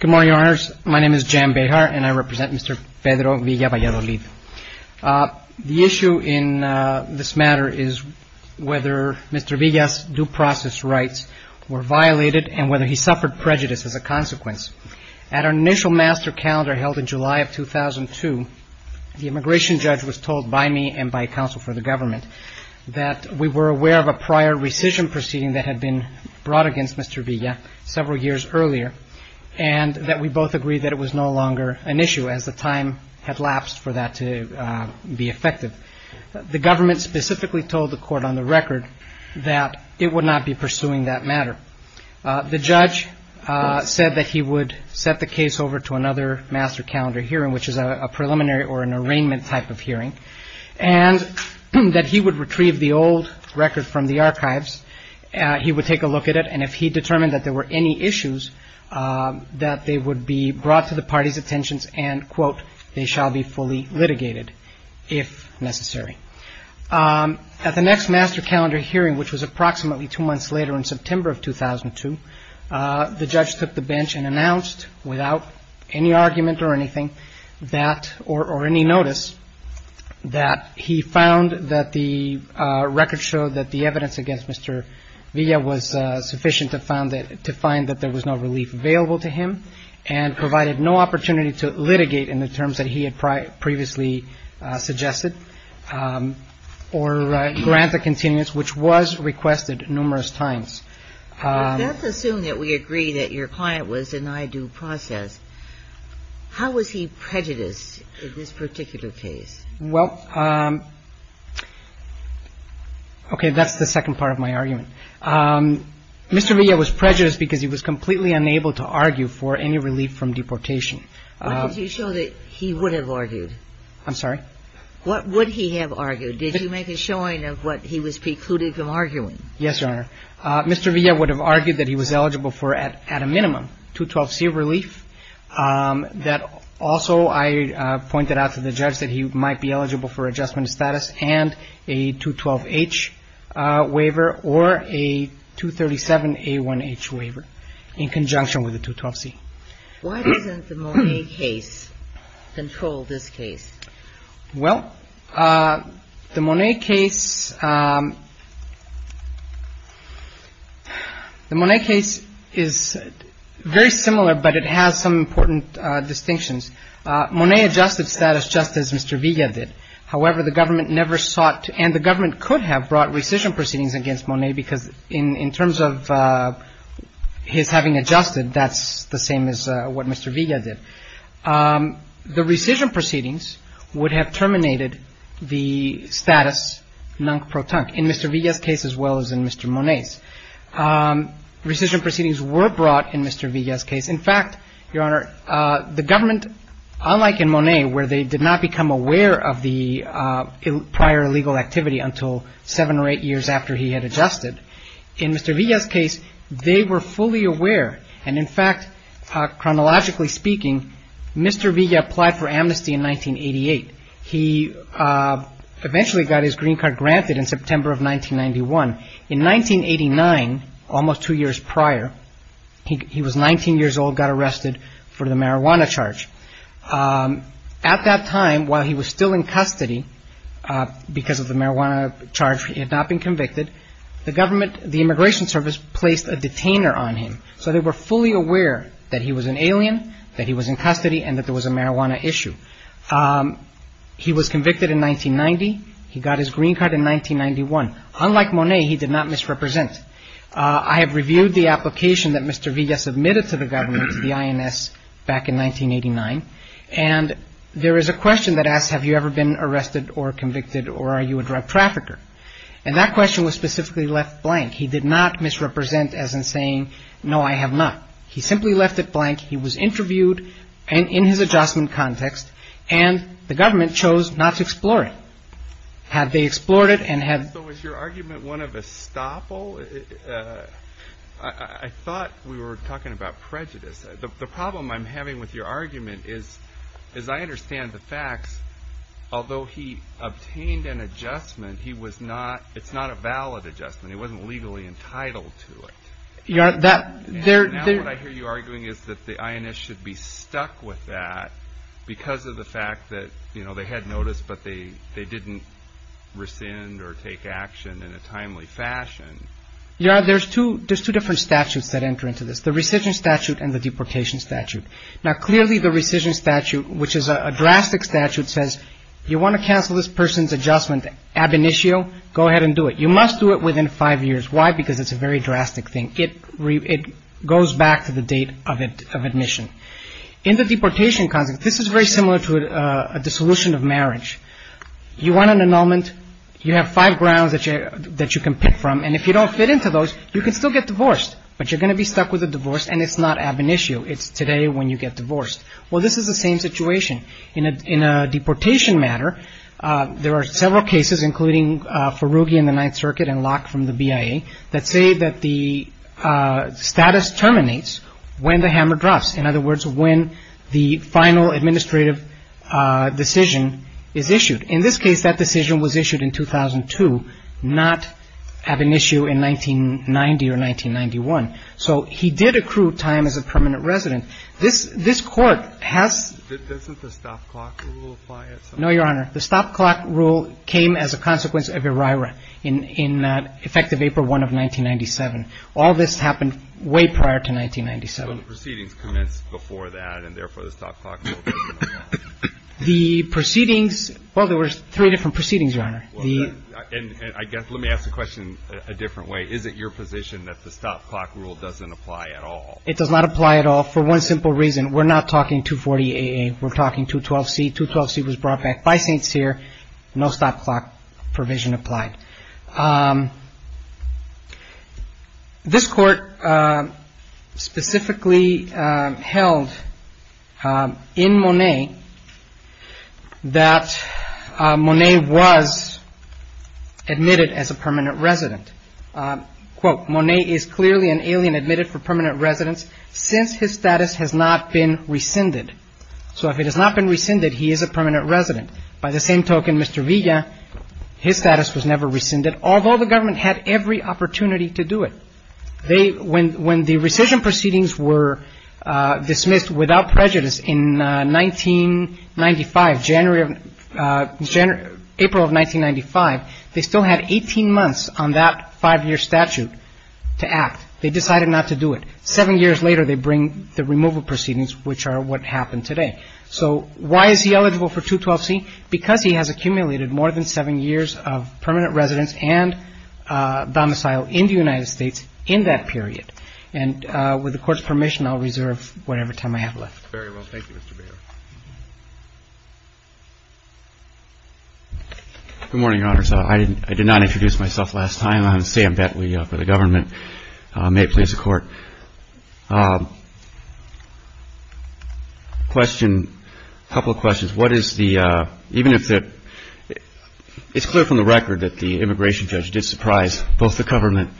Good morning, Your Honors. My name is Jan Bejar and I represent Mr. Pedro Villa-Valladolid. The issue in this matter is whether Mr. Villa's due process rights were violated and whether he suffered prejudice as a consequence. At our initial master calendar held in July of 2002, the immigration judge was told by me and by counsel for the government that we were aware of a prior rescission proceeding that had been brought against Mr. Villa several years earlier and that we both agreed that it was no longer an issue as the time had lapsed for that to be effective. The government specifically told the court on the record that it would not be pursuing that matter. The judge said that he would set the case over to another master calendar hearing, which is a preliminary or an arraignment type of hearing, and that he would retrieve the old record from the archives. He would take a he determined that there were any issues that they would be brought to the party's attentions and, quote, they shall be fully litigated if necessary. At the next master calendar hearing, which was approximately two months later in September of 2002, the judge took the bench and announced without any argument or anything that or any notice that he found that the record showed that the evidence against Mr. Villa was sufficient to find that there was no relief available to him and provided no opportunity to litigate in the terms that he had previously suggested or grant a continuance, which was requested numerous times. But let's assume that we agree that your client was denied due process. How was he prejudiced in this particular case? Well, okay, that's the second part of my argument. Mr. Villa was prejudiced because he was completely unable to argue for any relief from deportation. Why did you show that he would have argued? I'm sorry? What would he have argued? Did he make a showing of what he was precluding from arguing? Yes, Your Honor. Mr. Villa would have argued that he was eligible for, at a minimum, 212C relief. That also I pointed out to the judge that he might be eligible for adjustment status and a 212H waiver or a 237A1H waiver in conjunction with the 212C. Why doesn't the Monet case control this case? Well, the Monet case is very similar, but it has some important distinctions. Monet adjusted status just as Mr. Villa did. However, the government never sought to, and the government could have brought rescission proceedings against Monet, because in terms of his having adjusted, that's the same as what Mr. Villa did. The rescission proceedings would have terminated the status non-protonque in Mr. Villa's case as well as in Mr. Monet's. Rescission proceedings were brought in Mr. Villa's case. In fact, Your Honor, the government, unlike in Monet, where they did not become aware of the prior illegal activity until seven or eight years after he had adjusted, in Mr. Villa's case, they were fully aware. And in fact, chronologically speaking, Mr. Villa applied for amnesty in 1988. He eventually got his green card granted in September of 1991. In 1989, almost two years prior, he was 19 years old, got arrested for the marijuana charge. At that time, while he was still in custody, because of the marijuana charge, he had not been convicted. The government, the Immigration Service, placed a detainer on him. So they were fully aware that he was an alien, that he was in custody, and that there was a marijuana issue. He was convicted in 1990. He got his green card in 1991. Unlike Monet, he did not misrepresent. I have reviewed the application that Mr. Villa submitted to the government, to the INS, back in 1989. And there is a question that asks, have you ever been arrested or convicted, or are you a drug trafficker? And that question was specifically left blank. He did not misrepresent, as in saying, no, I have not. He simply left it blank. He was interviewed, and in his adjustment context, and the government chose not to explore it. Had they explored it, and had... So was your argument one of estoppel? I thought we were talking about prejudice. The problem I'm having with your argument is, as I understand the facts, although he obtained an adjustment, he was not, it's not a valid adjustment. He wasn't legally entitled to it. Now what I hear you arguing is that the INS should be stuck with that, because of the fact that, you know, they had notice, but they didn't rescind or take action in a timely fashion. You know, there's two different statutes that enter into this, the rescission statute and the deportation statute. Now clearly the rescission statute, which is a drastic statute, says you want to cancel this person's adjustment ab initio, go ahead and do it. You must do it within five years. Why? Because it's a very drastic thing. It goes back to the date of admission. In the deportation context, this is very similar to a dissolution of marriage. You want an annulment. You have five grounds that you can pick from. And if you don't fit into those, you can still get divorced, but you're going to be stuck with a divorce and it's not ab initio. It's today when you get divorced. Well, this is the same situation in a deportation matter. There are several cases, including Ferughi in the Ninth Circuit and Locke from the BIA, that say that the status terminates when the hammer drops. In other words, when the final administrative decision is issued. In this case, that decision was issued in 2002, not ab initio in 1990 or 1991. So he did accrue time as a permanent resident. This court has. Doesn't the stop clock rule apply? No, Your Honor. The stop clock rule came as a consequence of ERIRA in effective April 1 of 1997. All this happened way prior to 1997. Proceedings commenced before that, and therefore the stop clock. The proceedings. Well, there were three different proceedings, Your Honor. And I guess let me ask the question a different way. Is it your position that the stop clock rule doesn't apply at all? It does not apply at all for one simple reason. We're not talking to 48. We're talking to 12 C to 12 C was brought back by Saints here. No stop clock provision applied. This court specifically held in Monet that Monet was admitted as a permanent resident. Monet is clearly an alien admitted for permanent residence since his status has not been rescinded. So if it has not been rescinded, he is a permanent resident. By the same token, Mr. Villa. His status was never rescinded, although the government had every opportunity to do it. They when when the rescission proceedings were dismissed without prejudice in 1995, January of January, April of 1995, they still had 18 months on that five year statute to act. They decided not to do it. Seven years later, they bring the removal proceedings, which are what happened today. So why is he eligible for 212 C? Because he has accumulated more than seven years of permanent residence and domicile in the United States in that period. And with the court's permission, I'll reserve whatever time I have left. Very well. Thank you, Mr. Mayor. Good morning, Your Honor. So I didn't I did not introduce myself last time. I'm Sam Betwee for the government. May it please the court. Question. A couple of questions. What is the even if it is clear from the record that the immigration judge did surprise both the government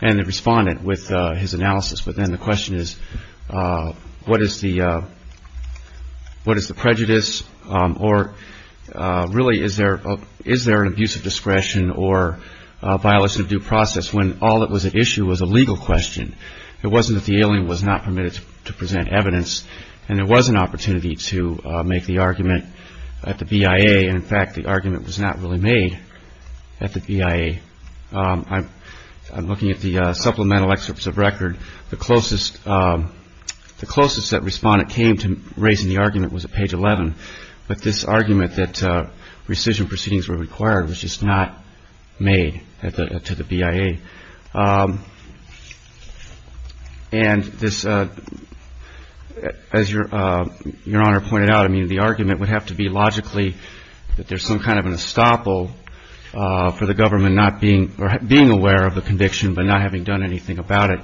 and the respondent with his analysis. But then the question is, what is the what is the prejudice? Or really, is there is there an abuse of discretion or violation of due process when all that was at issue was a legal question? It wasn't that the alien was not permitted to present evidence. And there was an opportunity to make the argument at the BIA. And in fact, the argument was not really made at the BIA. I'm looking at the supplemental excerpts of record. The closest the closest that respondent came to raising the argument was a page 11. But this argument that rescission proceedings were required was just not made to the BIA. And this as your your honor pointed out, I mean, the argument would have to be logically that there's some kind of an estoppel for the government not being or being aware of the conviction, but not having done anything about it.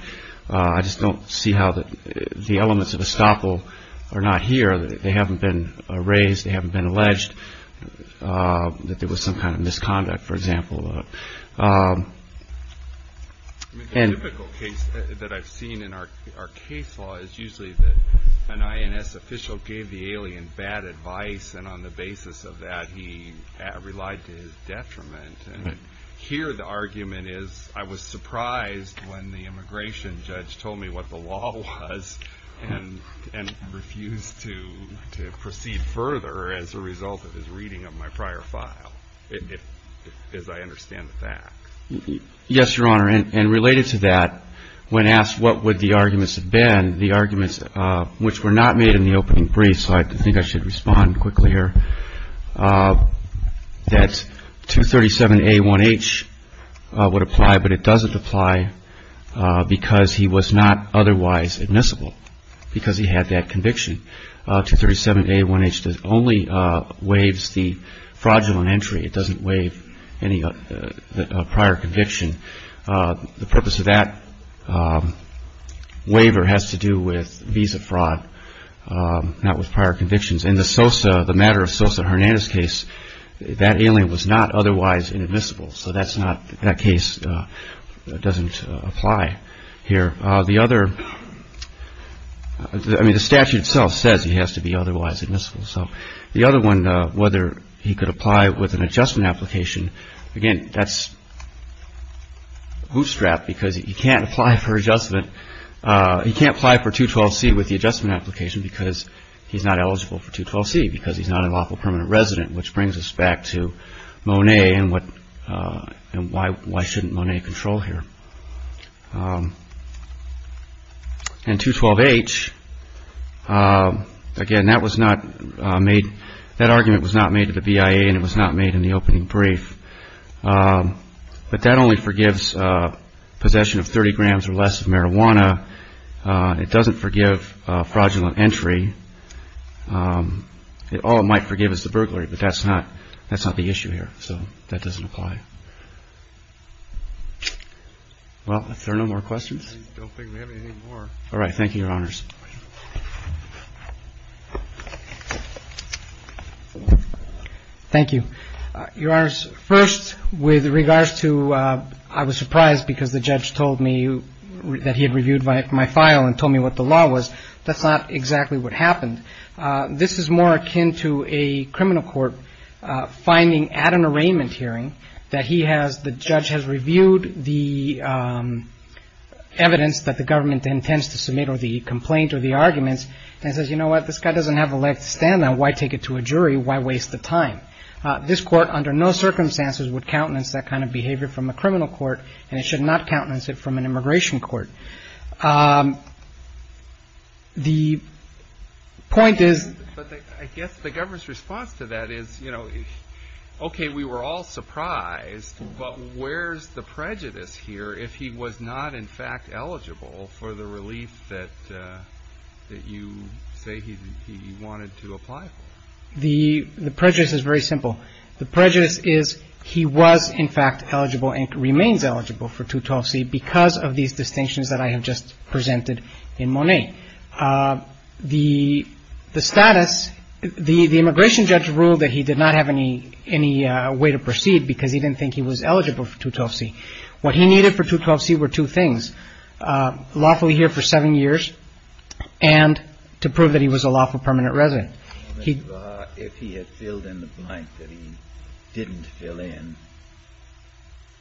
I just don't see how the elements of estoppel are not here. They haven't been raised. They haven't been alleged that there was some kind of misconduct, for example. And that I've seen in our case law is usually that an INS official gave the alien bad advice. And on the basis of that, he relied to his detriment. And here the argument is I was surprised when the immigration judge told me what the law was and refused to proceed further as a result of his reading of my prior file. It is I understand that. Yes, your honor. And related to that, when asked what would the arguments have been, the arguments which were not made in the opening brief. So I think I should respond quickly here that 237A1H would apply, but it doesn't apply because he was not otherwise admissible because he had that conviction. 237A1H only waives the fraudulent entry. It doesn't waive any prior conviction. The purpose of that waiver has to do with visa fraud, not with prior convictions. In the Sosa, the matter of Sosa Hernandez case, that alien was not otherwise inadmissible. So that's not that case doesn't apply here. The other I mean, the statute itself says he has to be otherwise admissible. So the other one, whether he could apply with an adjustment application. Again, that's a bootstrap because you can't apply for adjustment. You can't apply for 212C with the adjustment application because he's not eligible for 212C because he's not a lawful permanent resident, which brings us back to Monet and what and why why shouldn't Monet control here. And 212H, again, that was not made that argument was not made to the BIA and it was not made in the opening brief. But that only forgives possession of 30 grams or less of marijuana. It doesn't forgive fraudulent entry. All it might forgive is the burglary, but that's not that's not the issue here. So that doesn't apply. Well, if there are no more questions, I don't think we have anything more. All right. Thank you, Your Honors. Thank you, Your Honors. First, with regards to I was surprised because the judge told me that he had reviewed my file and told me what the law was. That's not exactly what happened. This is more akin to a criminal court finding at an arraignment hearing that he has. The judge has reviewed the evidence that the government intends to submit or the complaint or the arguments and says, you know what? This guy doesn't have a leg to stand on. Why take it to a jury? Why waste the time? This court under no circumstances would countenance that kind of behavior from a criminal court. And it should not countenance it from an immigration court. The point is, I guess the government's response to that is, you know, OK, we were all surprised. But where's the prejudice here if he was not, in fact, eligible for the relief that you say he wanted to apply for? The prejudice is very simple. The prejudice is he was, in fact, eligible and remains eligible for 212C because of these distinctions that I have just presented in Monet. The status, the immigration judge ruled that he did not have any way to proceed because he didn't think he was eligible for 212C. What he needed for 212C were two things, lawfully here for seven years and to prove that he was a lawful permanent resident. If he had filled in the blank that he didn't fill in,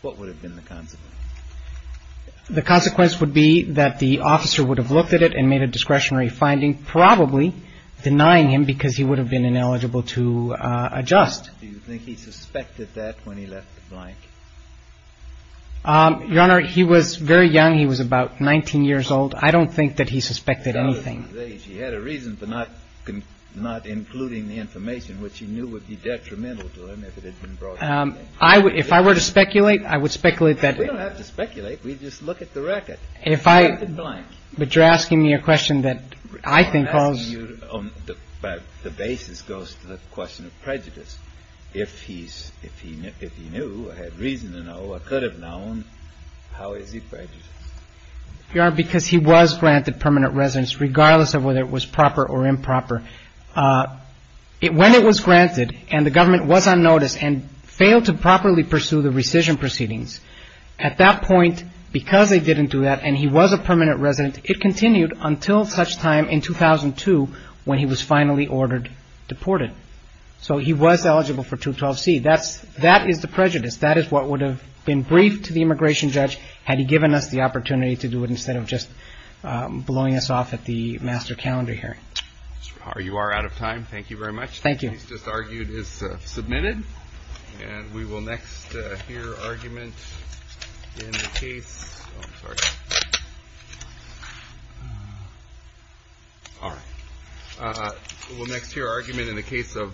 what would have been the consequence? The consequence would be that the officer would have looked at it and made a discretionary finding, probably denying him because he would have been ineligible to adjust. Do you think he suspected that when he left the blank? Your Honor, he was very young. He was about 19 years old. I don't think that he suspected anything. He had a reason for not including the information which he knew would be detrimental to him if it had been brought to him. If I were to speculate, I would speculate that... We don't have to speculate. We just look at the record. If I... But you're asking me a question that I think calls... The basis goes to the question of prejudice. If he knew or had reason to know or could have known, how is he prejudiced? Your Honor, because he was granted permanent residence regardless of whether it was proper or improper. When it was granted and the government was on notice and failed to properly pursue the rescission proceedings, at that point, because they didn't do that and he was a permanent resident, it continued until such time in 2002 when he was finally ordered deported. So he was eligible for 212C. That is the prejudice. That is what would have been briefed to the immigration judge had he given us the opportunity to do it instead of just blowing us off at the master calendar hearing. Your Honor, you are out of time. Thank you very much. Thank you. The case just argued is submitted. And we will next hear argument in the case of... I'm sorry. All right. We'll next hear argument in the case of...